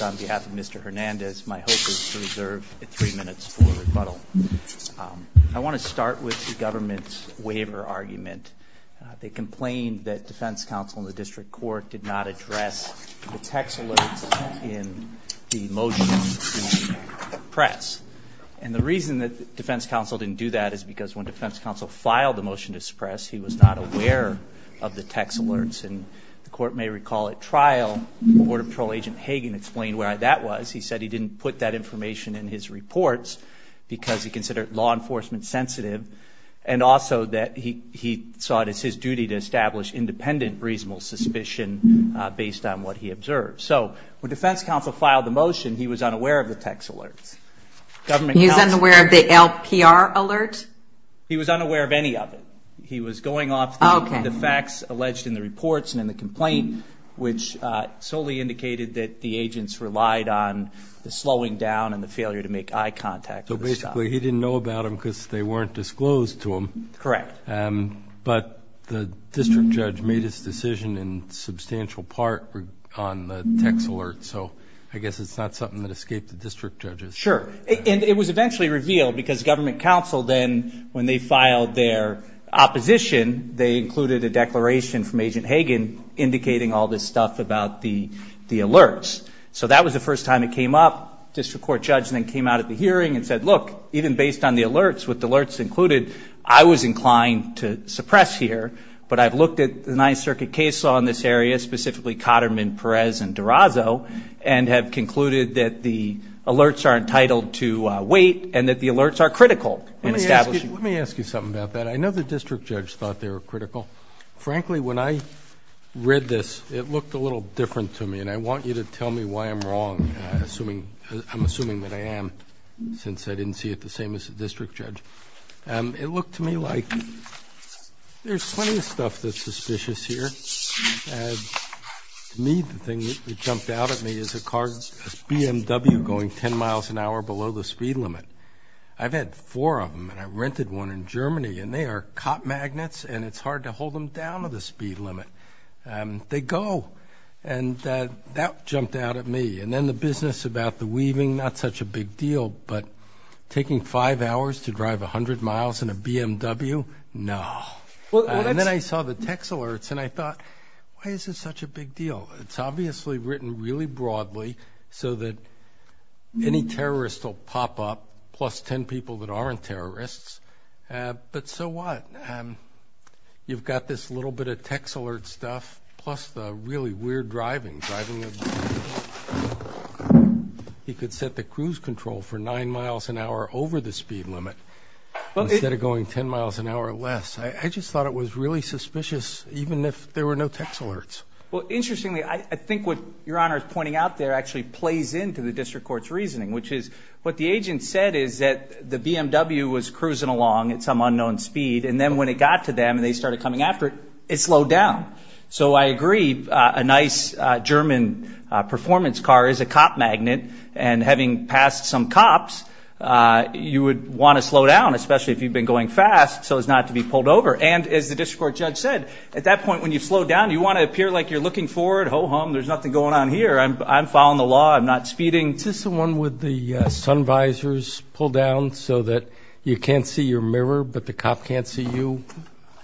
on behalf of Mr. Hernandez. My hope is to reserve three minutes for rebuttal. I want to start with the government's waiver argument. They complained that defense counsel in the district court did not address the text alerts in the motion to suppress. And the reason that defense counsel didn't do that is because when defense counsel filed the motion to suppress, he was not aware of the text alerts. And the court may recall at trial, Border Patrol Agent Hagen explained why that was. He said he didn't put that information in his reports because he considered law enforcement sensitive. And also that he saw it as his duty to establish independent reasonable suspicion based on what he observed. So when defense counsel filed the motion, he was unaware of the text alerts. He was unaware of the LPR alert? He was unaware of any of it. He was going off the facts alleged in the reports and in the complaint, which solely indicated that the agents relied on the slowing down and the failure to make eye contact. So basically he didn't know about them because they weren't disclosed to him? Correct. But the district judge made his decision in substantial part on the text alerts. So I guess it's not something that escaped the district judges. Sure. And it was eventually revealed because government counsel then, when they filed their opposition, they included a declaration from Agent Hagen indicating all this stuff about the alerts. So that was the first time it came up. District court judge then came out at the hearing and said, look, even based on the alerts, with alerts included, I was inclined to suppress here. But I've looked at the Ninth Circuit case law in this area, specifically Cotterman, Perez, and Durazo, and have concluded that the alerts are entitled to wait and that the alerts are critical in establishing. Let me ask you something about that. I know the district judge thought they were critical. Frankly, when I read this, it looked a little different to me. And I want you to tell me why I'm wrong. I'm assuming that I am since I didn't see it the same as the district judge. It looked to me like there's plenty of stuff that's suspicious here. To me, the thing that jumped out at me is a car, a BMW going 10 miles an hour below the speed limit. I've had four of them and I rented one in Germany and they are cop magnets and it's hard to hold them down to the speed limit. They go. And that jumped out at me. And then the business about the weaving, not such a big deal, but taking five hours to drive 100 miles in a BMW? No. And then I saw the text alerts and I thought, why is it such a big deal? It's obviously written really broadly so that any terrorist will pop up plus 10 people that aren't terrorists. But so what? You've got this little bit of text alert stuff plus the really weird driving, driving. He could set the cruise control for nine miles an hour over the speed limit instead of going 10 miles an hour or less. I just thought it was really suspicious even if there were no text alerts. Well, interestingly, I think what Your Honor is pointing out there actually plays into the district court's reasoning, which is what the agent said is that the BMW was cruising along at some unknown speed. And then when it got to them and they started coming after it, it slowed down. So I agree. A nice German performance car is a cop magnet. And having passed some cops, you would want to slow down, especially if you've been going fast so as not to be pulled over. And as the speed slowed down, you want to appear like you're looking forward, ho-hum, there's nothing going on here. I'm following the law. I'm not speeding. Is this the one with the sun visors pulled down so that you can't see your mirror but the cop can't see you?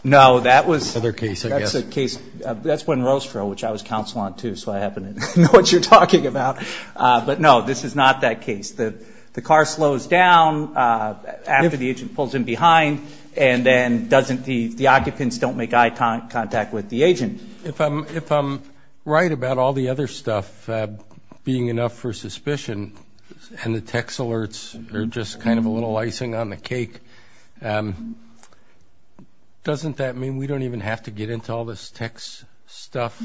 No, that was... Another case, I guess. That's a case, that's when Rosefro, which I was counsel on too, so I happen to know what you're talking about. But no, this is not that case. The car slows down after the agent pulls in behind and then doesn't, the occupants don't make eye contact with the agent. If I'm right about all the other stuff being enough for suspicion and the text alerts are just kind of a little icing on the cake, doesn't that mean we don't even have to get into all this text stuff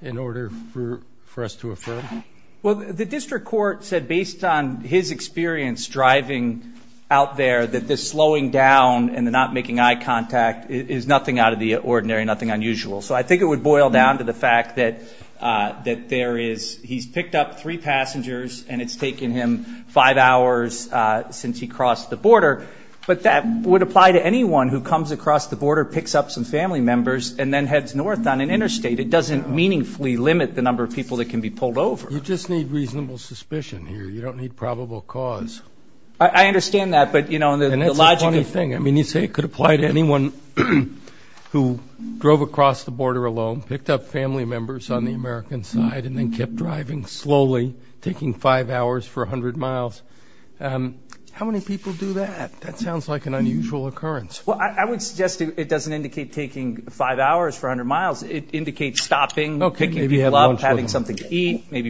in order for us to affirm? Well, the district court said based on his experience driving out there that this slowing down and not making eye contact is nothing out of the ordinary, nothing unusual. So I think it would boil down to the fact that there is, he's picked up three passengers and it's taken him five hours since he crossed the border. But that would apply to anyone who comes across the border, picks up some family members and then heads north on an interstate. It doesn't meaningfully limit the number of people that can be pulled over. You just need reasonable suspicion here. You don't need probable cause. I understand that. But you know, the logic of thing, I mean, you say it could apply to anyone who drove across the border alone, picked up family members on the American side and then kept driving slowly, taking five hours for a hundred miles. How many people do that? That sounds like an unusual occurrence. Well, I would suggest it doesn't indicate taking five hours for a hundred miles. It would be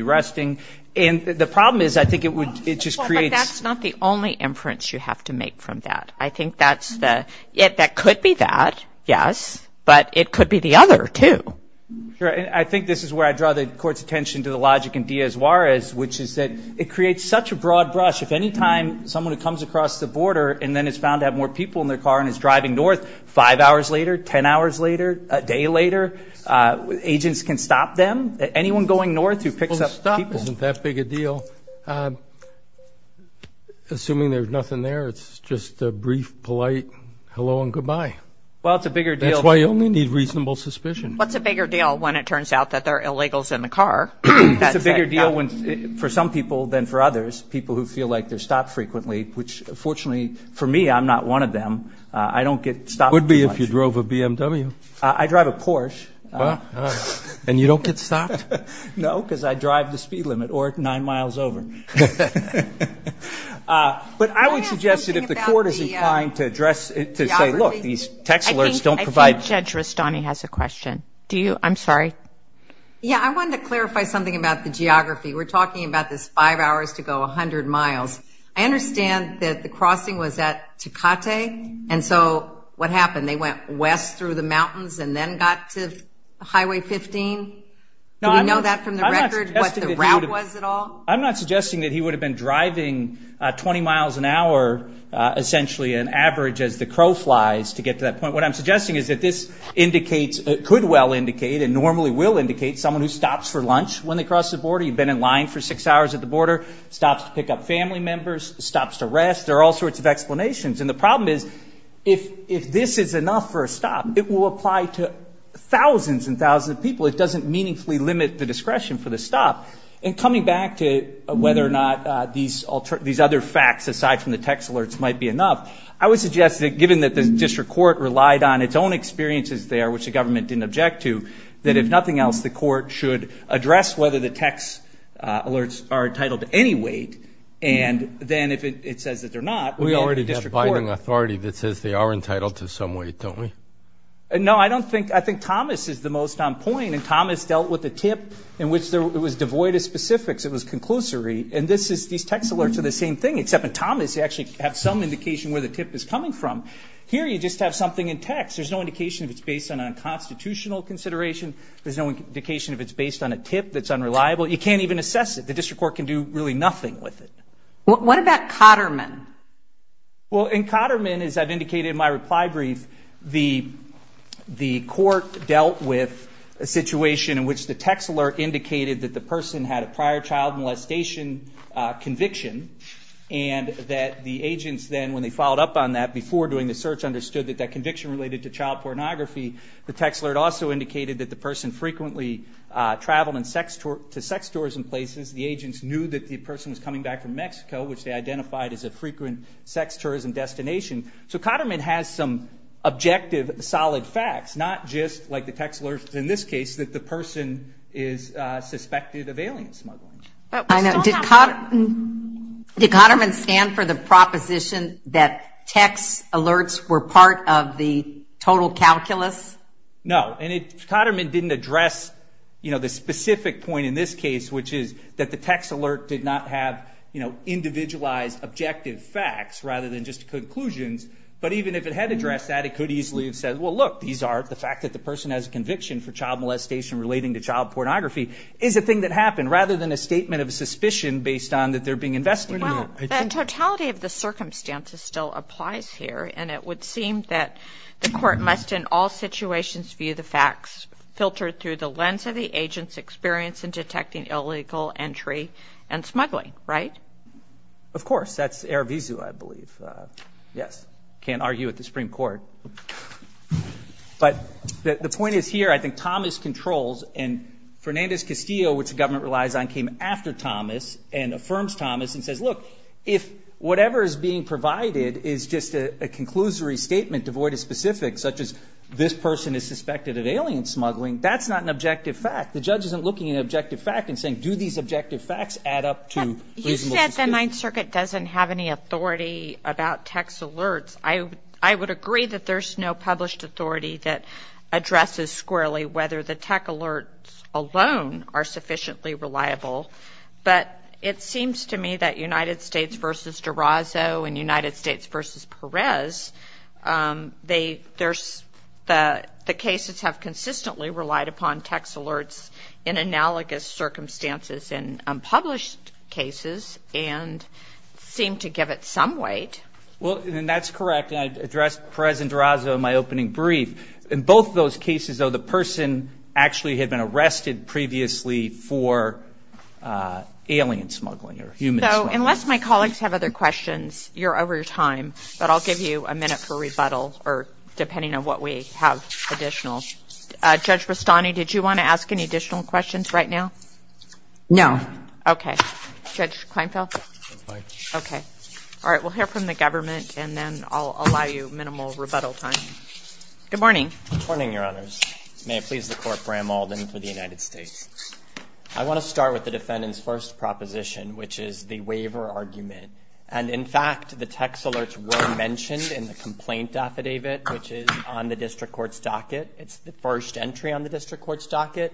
interesting. And the problem is I think it would, it just creates... Well, but that's not the only inference you have to make from that. I think that's the, yeah, that could be that. Yes. But it could be the other two. Sure. And I think this is where I draw the court's attention to the logic in Diaz-Juarez, which is that it creates such a broad brush. If anytime someone who comes across the border and then is found to have more people in their car and is stopped isn't that big a deal. Assuming there's nothing there, it's just a brief, polite hello and goodbye. Well, it's a bigger deal. That's why you only need reasonable suspicion. What's a bigger deal when it turns out that they're illegals in the car? That's a bigger deal for some people than for others. People who feel like they're stopped frequently, which fortunately for me, I'm not one of them. I don't get stopped. Would be if you drove a BMW. I drive a Porsche. And you don't get stopped? No, because I drive the speed limit or nine miles over. But I would suggest that if the court is inclined to address it to say, look, these text alerts don't provide. Judge Rastani has a question. Do you? I'm sorry. Yeah, I wanted to clarify something about the geography. We're talking about this five hours to go 100 miles. I understand that the crossing was at Tecate. And so what happened? They went west through the mountains and then got to Highway 15. Do you know that from the record what the route was at all? I'm not suggesting that he would have been driving 20 miles an hour, essentially an average as the crow flies to get to that point. What I'm suggesting is that this indicates, could well indicate and normally will indicate someone who stops for lunch when they cross the border. You've been in line for six hours at the border, stops to pick up family members, stops to rest. There are all sorts of explanations. And the problem is if this is enough for a stop, it will apply to thousands and thousands of people. It doesn't meaningfully limit the discretion for the stop. And coming back to whether or not these other facts aside from the text alerts might be enough, I would suggest that given that the district court relied on its own experiences there, which we already have a binding authority that says they are entitled to some weight, don't we? No, I don't think I think Thomas is the most on point. And Thomas dealt with the tip in which it was devoid of specifics. It was conclusory. And this is these text alerts are the same thing, except Thomas actually have some indication where the tip is coming from. Here you just have something in text. There's no indication if it's based on a constitutional consideration. There's no indication if it's based on a tip that's unreliable. You can't even assess it. The court dealt with a situation in which the text alert indicated that the person had a prior child molestation conviction and that the agents then when they followed up on that before doing the search understood that that conviction related to child pornography. The text alert also indicated that the person frequently traveled to sex stores and places. The agents knew that the person was coming back from Mexico, which they identified as a frequent sex tourism destination. So Cotterman has some objective solid facts, not just like the text alerts in this case that the person is suspected of alien smuggling. Did Cotterman stand for the proposition that text alerts were part of the total calculus? No. And Cotterman didn't address the specific point in this case, which is that the text alert did not have individualized objective facts rather than just conclusions. But even if it had addressed that, it could easily have said, well, look, these are the fact that the person has a conviction for child molestation relating to child pornography is a thing that happened, rather than a statement of suspicion based on that they're being investigated. Well, the totality of the circumstances still applies here. And it would seem that the court must in all situations view the facts filtered through the lens of the agent's experience in detecting illegal entry and smuggling, right? Of course. That's Erevisu, I believe. Yes. Can't argue with the Supreme Court. But the point is here, I think Thomas controls and Fernandez Castillo, which the government relies on, came after Thomas and affirms Thomas and says, look, if whatever is being provided is just a conclusory statement devoid of specifics, such as this person is suspected of alien smuggling, that's not an objective fact. The judge isn't looking at an objective fact and saying, do these objective facts add up to reasonable suspicion? You said the Ninth Circuit doesn't have any authority about text alerts. I would agree that there's no published authority that addresses squarely whether the text alerts alone are sufficiently reliable. But it seems to me that United States v. Durazo and United States v. Perez, the cases have consistently relied upon text alerts in analogous circumstances in unpublished cases and seem to give it some weight. Well, that's correct. And I addressed Perez and Durazo in my opening brief. In both those cases, though, the person actually had been arrested previously for alien smuggling or human smuggling. Unless my colleagues have other questions, you're over your time. But I'll give you a minute for rebuttal or depending on what we have additional. Judge Rastani, did you want to ask any additional questions right now? No. Okay. Judge Kleinfeld? Okay. All right. We'll hear from the government and then I'll allow you minimal rebuttal time. Good morning. Good morning, Your Honors. May it please the Court, Bram Alden for the United States. I want to start with the defendant's first proposition, which is the waiver argument. And in fact, the text alerts were mentioned in the complaint affidavit, which is on the district court's docket. It's the first entry on the district court's docket.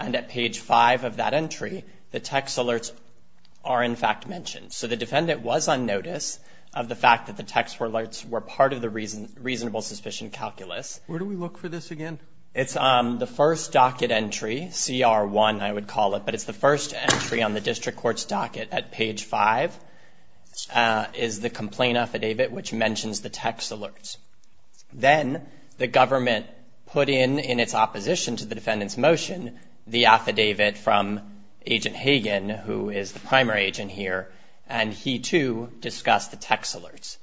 And at page five of that entry, the text alerts are, in fact, mentioned. So the defendant was on notice of the fact that the text alerts were part of the reasonable suspicion calculus. Where do we look for this again? It's the first docket entry, CR1, I would call it. But it's the first entry on the district court's docket at page five is the complaint affidavit, which the affidavit from Agent Hagen, who is the primary agent here, and he, too, discussed the text alerts.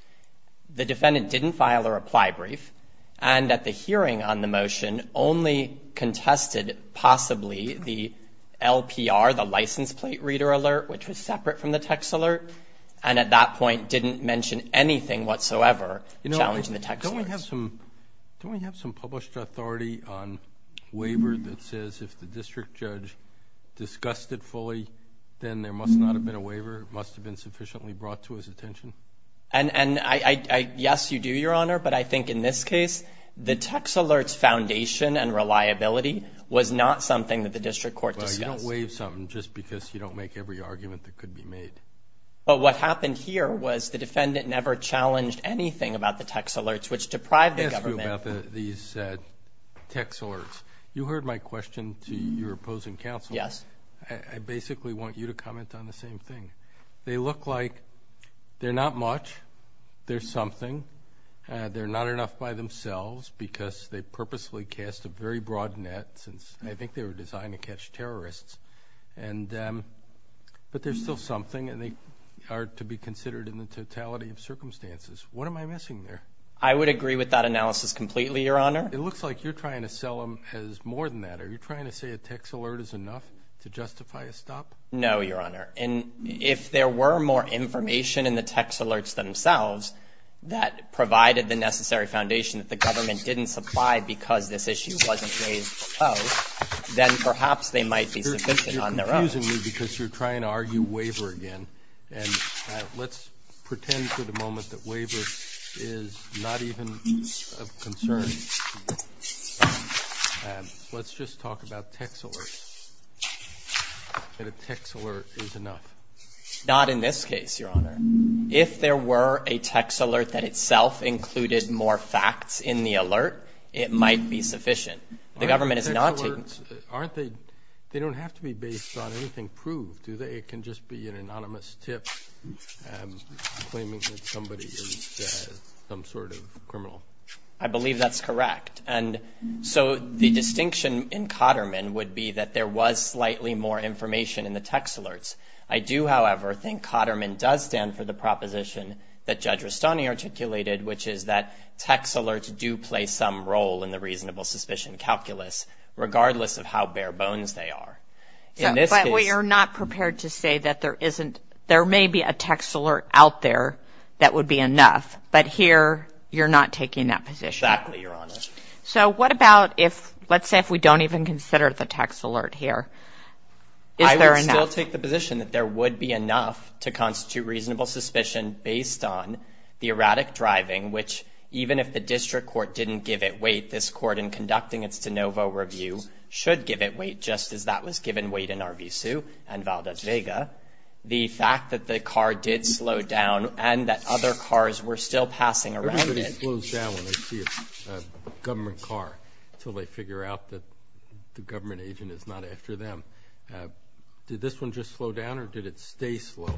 The defendant didn't file a reply brief and at the hearing on the motion only contested possibly the LPR, the license plate reader alert, which was separate from the text alert, and at that point didn't mention anything whatsoever challenging the text alerts. Don't we have some published authority on waiver that says if the district judge discussed it fully, then there must not have been a waiver? It must have been sufficiently brought to his attention? And yes, you do, Your Honor. But I think in this case, the text alerts foundation and reliability was not something that the district court discussed. Well, you don't waive something just because you don't make every argument that could be made. But what happened here was the defendant never challenged anything about the text alerts, which deprived the government. Let me ask you about these text alerts. You heard my question to your opposing counsel. Yes. I basically want you to comment on the same thing. They look like they're not much. They're something. They're not enough by themselves because they are to be considered in the totality of circumstances. What am I missing there? I would agree with that analysis completely, Your Honor. It looks like you're trying to sell them as more than that. Are you trying to say a text alert is enough to justify a stop? No, Your Honor. And if there were more information in the text alerts themselves that provided the necessary foundation that the government didn't supply because this issue wasn't raised before, then perhaps they might be sufficient on their own. You're confusing me because you're trying to argue waiver again. And let's pretend for the moment that waiver is not even of concern. Let's just talk about text alerts, that a text alert is enough. Not in this case, Your Honor. If there were a text alert that itself included more facts in the alert, it might be sufficient. They don't have to be based on anything proved, do they? It can just be an anonymous tip claiming that somebody is some sort of criminal. I believe that's correct. And so the distinction in Cotterman would be that there was slightly more information in the text alerts. I do, however, think Cotterman does stand for the proposition that Judge Rustani articulated, which is that text alerts do play some role in the reasonable suspicion calculus, regardless of how bare bones they are. But you're not prepared to say that there may be a text alert out there that would be enough, but here you're not taking that position. Exactly, Your Honor. So what about if, let's say if we don't even consider the text alert here, is there enough? I will take the position that there would be enough to constitute reasonable suspicion based on the erratic driving, which even if the district court didn't give it weight, this court in conducting its de novo review should give it weight, just as that was given weight in Arvizu and Valdez Vega. The fact that the car did slow down and that other cars were still passing around it. Everybody slows down when they see a government car until they figure out that the government agent is not after them. Did this one just slow down or did it stay slow?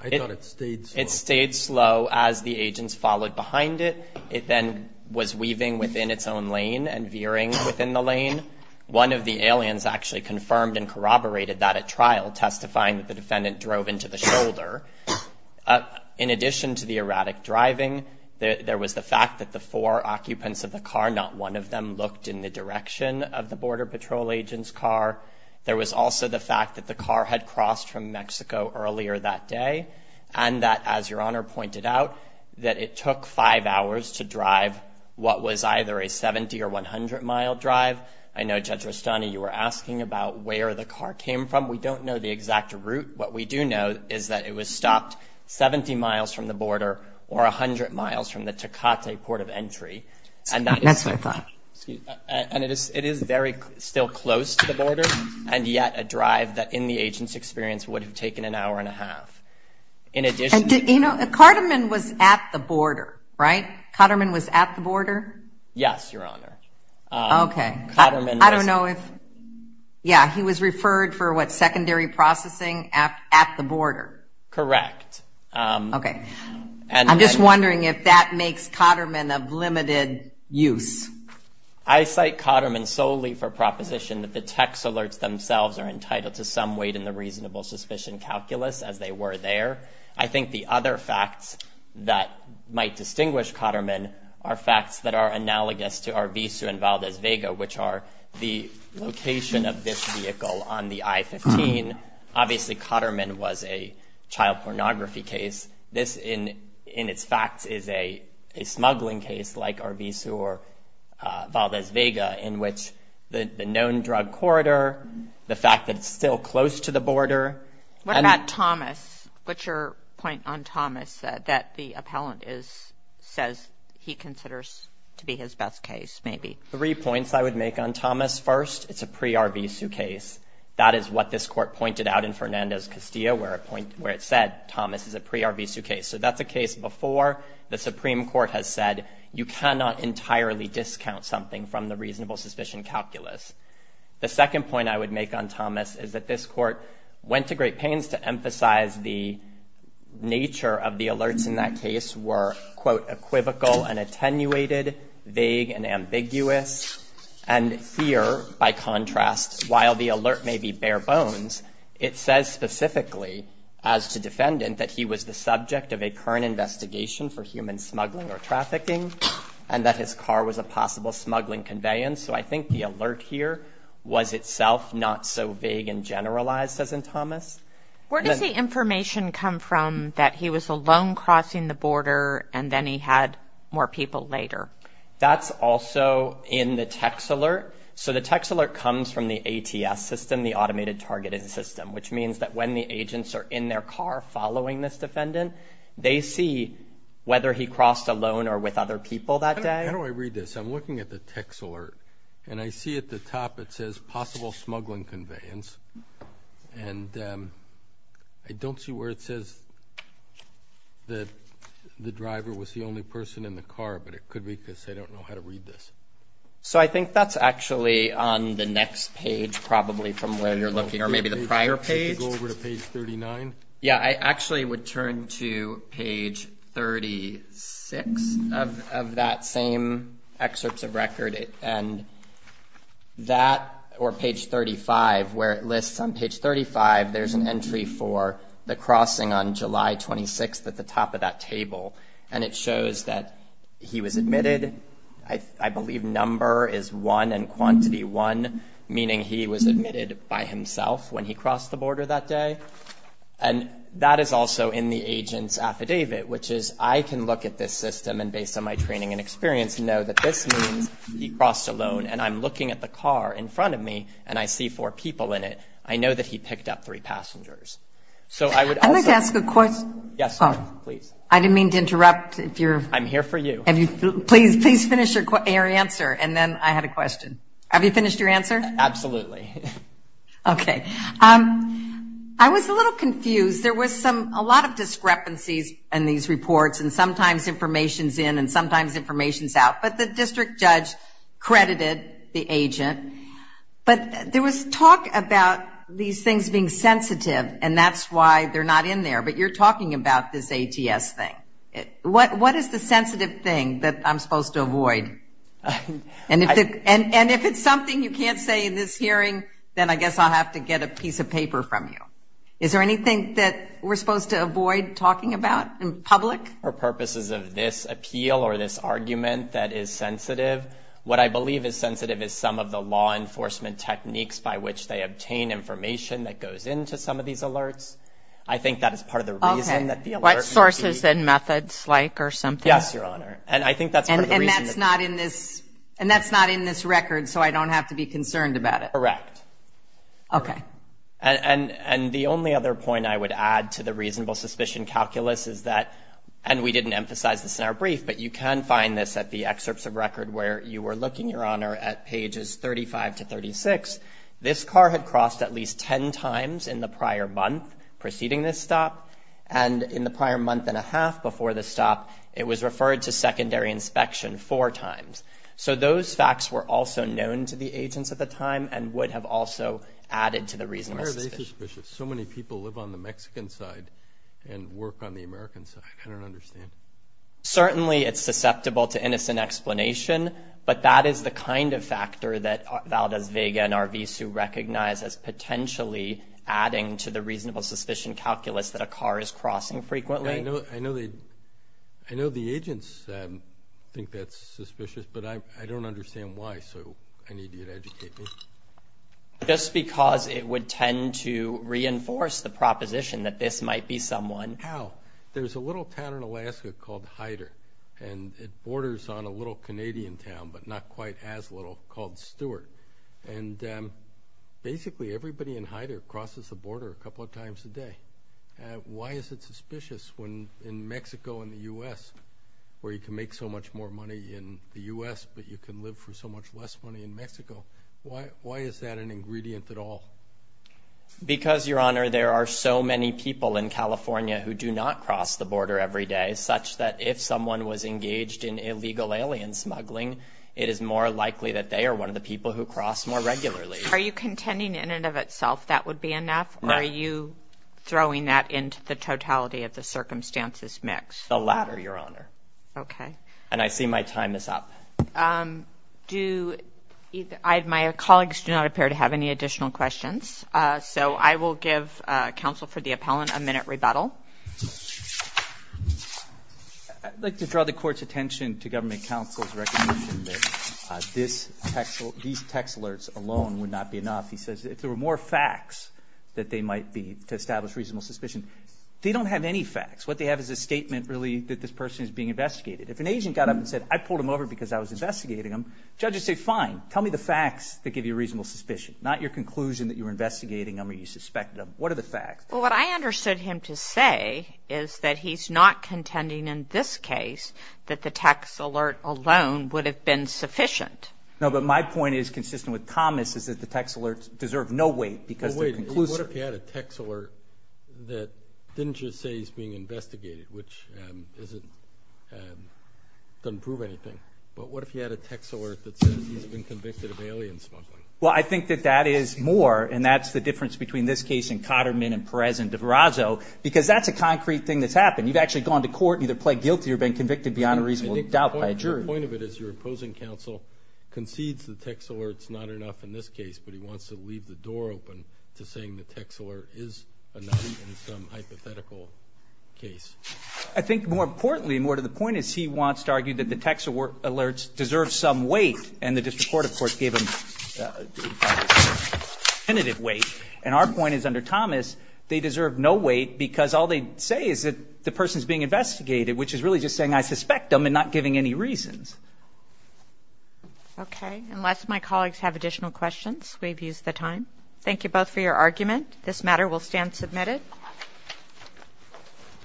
I thought it stayed slow. It stayed slow as the agents followed behind it. It then was weaving within its own lane and veering within the lane. One of the aliens actually confirmed and corroborated that at trial, testifying that the defendant drove into the shoulder. In addition to the erratic driving, there was the fact that the four occupants of the car, not one of them looked in the direction of the Border Patrol agent's car. There was also the fact that the car had crossed from Mexico earlier that day and that, as Your Honor pointed out, that it took five hours to drive what was either a 70 or 100-mile drive. I know, Judge Rustani, you were asking about where the car came from. We don't know the exact route. What we do know is that it was stopped 70 miles from the border or 100 miles from the Tecate Port of Entry. That's what I thought. And it is very still close to the border, and yet a drive that, in the agent's experience, would have taken an hour and a half. In addition to… You know, Carterman was at the border, right? Carterman was at the border? Yes, Your Honor. Okay. Carterman was… Correct. Okay. I'm just wondering if that makes Cotterman of limited use. I cite Cotterman solely for proposition that the text alerts themselves are entitled to some weight in the reasonable suspicion calculus, as they were there. I think the other facts that might distinguish Cotterman are facts that are analogous to Arvizu and Valdez Vega, which are the location of this vehicle on the I-15. Obviously, Cotterman was a child pornography case. This, in its facts, is a smuggling case like Arvizu or Valdez Vega, in which the known drug corridor, the fact that it's still close to the border… What about Thomas? What's your point on Thomas that the appellant says he considers to be his best case, maybe? Three points I would make on Thomas. First, it's a pre-Arvizu case. That is what this court pointed out in Fernandez-Castillo, where it said Thomas is a pre-Arvizu case. So that's a case before the Supreme Court has said you cannot entirely discount something from the reasonable suspicion calculus. The second point I would make on Thomas is that this court went to great pains to emphasize the nature of the alerts in that case were, quote, equivocal and attenuated, vague and ambiguous. And here, by contrast, while the alert may be bare bones, it says specifically, as to defendant, that he was the subject of a current investigation for human smuggling or trafficking and that his car was a possible smuggling conveyance. So I think the alert here was itself not so vague and generalized, as in Thomas. Where does the information come from that he was alone crossing the border and then he had more people later? That's also in the text alert. So the text alert comes from the ATS system, the Automated Targeting System, which means that when the agents are in their car following this defendant, they see whether he crossed alone or with other people that day. How do I read this? I'm looking at the text alert, and I see at the top it says possible smuggling conveyance. And I don't see where it says that the driver was the only person in the car, but it could be because I don't know how to read this. So I think that's actually on the next page, probably, from where you're looking, or maybe the prior page. Could you go over to page 39? Yeah, I actually would turn to page 36 of that same excerpts of record, and that, or page 35, where it lists on page 35, there's an entry for the crossing on July 26th at the top of that table, and it shows that he was admitted. I believe number is 1 and quantity 1, meaning he was admitted by himself when he crossed the border that day. And that is also in the agent's affidavit, which is I can look at this system, and based on my training and experience, know that this means he crossed alone. And I'm looking at the car in front of me, and I see four people in it. I know that he picked up three passengers. So I would also ask a question. Yes, please. I didn't mean to interrupt. I'm here for you. Please finish your answer, and then I had a question. Have you finished your answer? Absolutely. Okay. I was a little confused. There was a lot of discrepancies in these reports, and sometimes information's in and sometimes information's out. But the district judge credited the agent. But there was talk about these things being sensitive, and that's why they're not in there. But you're talking about this ATS thing. What is the sensitive thing that I'm supposed to avoid? And if it's something you can't say in this hearing, then I guess I'll have to get a piece of paper from you. Is there anything that we're supposed to avoid talking about in public? For purposes of this appeal or this argument that is sensitive, what I believe is sensitive is some of the law enforcement techniques by which they obtain information that goes into some of these alerts. I think that is part of the reason that the alerts should be. What sources and methods like or something? Yes, Your Honor. And I think that's part of the reason. And that's not in this record, so I don't have to be concerned about it? Correct. Okay. And the only other point I would add to the reasonable suspicion calculus is that, and we didn't emphasize this in our brief, but you can find this at the excerpts of record where you were looking, Your Honor, at pages 35 to 36. This car had crossed at least 10 times in the prior month preceding this stop. And in the prior month and a half before this stop, it was referred to secondary inspection four times. So those facts were also known to the agents at the time and would have also added to the reasonable suspicion. Why are they suspicious? So many people live on the Mexican side and work on the American side. I don't understand. Certainly it's susceptible to innocent explanation, but that is the kind of factor that Valdez Vega and RVSU recognize as potentially adding to the reasonable suspicion calculus that a car is crossing frequently. I know the agents think that's suspicious, but I don't understand why, so I need you to educate me. Just because it would tend to reinforce the proposition that this might be someone. How? There's a little town in Alaska called Hyder, and it borders on a little Canadian town, but not quite as little, called Stewart. And basically everybody in Hyder crosses the border a couple of times a day. Why is it suspicious when in Mexico and the U.S., where you can make so much more money in the U.S., but you can live for so much less money in Mexico, why is that an ingredient at all? Because, Your Honor, there are so many people in California who do not cross the border every day, such that if someone was engaged in illegal alien smuggling, it is more likely that they are one of the people who cross more regularly. Are you contending in and of itself that would be enough? No. Are you throwing that into the totality of the circumstances mix? The latter, Your Honor. Okay. And I see my time is up. My colleagues do not appear to have any additional questions, so I will give counsel for the appellant a minute rebuttal. I'd like to draw the court's attention to government counsel's recognition that these text alerts alone would not be enough. He says if there were more facts that they might be to establish reasonable suspicion. They don't have any facts. What they have is a statement, really, that this person is being investigated. If an agent got up and said, I pulled him over because I was investigating him, judges say, fine, tell me the facts that give you reasonable suspicion, not your conclusion that you were investigating him or you suspected him. What are the facts? Well, what I understood him to say is that he's not contending in this case that the text alert alone would have been sufficient. No, but my point is consistent with Thomas' is that the text alerts deserve no weight because they're conclusive. Well, wait, what if he had a text alert that didn't just say he's being investigated, which doesn't prove anything? But what if he had a text alert that says he's been convicted of alien smuggling? Well, I think that that is more, and that's the difference between this case and Cotterman and Perez and DeVrazzo, because that's a concrete thing that's happened. You've actually gone to court and either pled guilty or been convicted beyond a reasonable doubt by a jury. My point of it is your opposing counsel concedes the text alert is not enough in this case, but he wants to leave the door open to saying the text alert is enough in some hypothetical case. I think more importantly and more to the point is he wants to argue that the text alerts deserve some weight, and the district court, of course, gave him definitive weight. And our point is under Thomas they deserve no weight because all they say is that the person is being investigated, which is really just saying I suspect them and not giving any reasons. Okay, unless my colleagues have additional questions, we've used the time. Thank you both for your argument. This matter will stand submitted.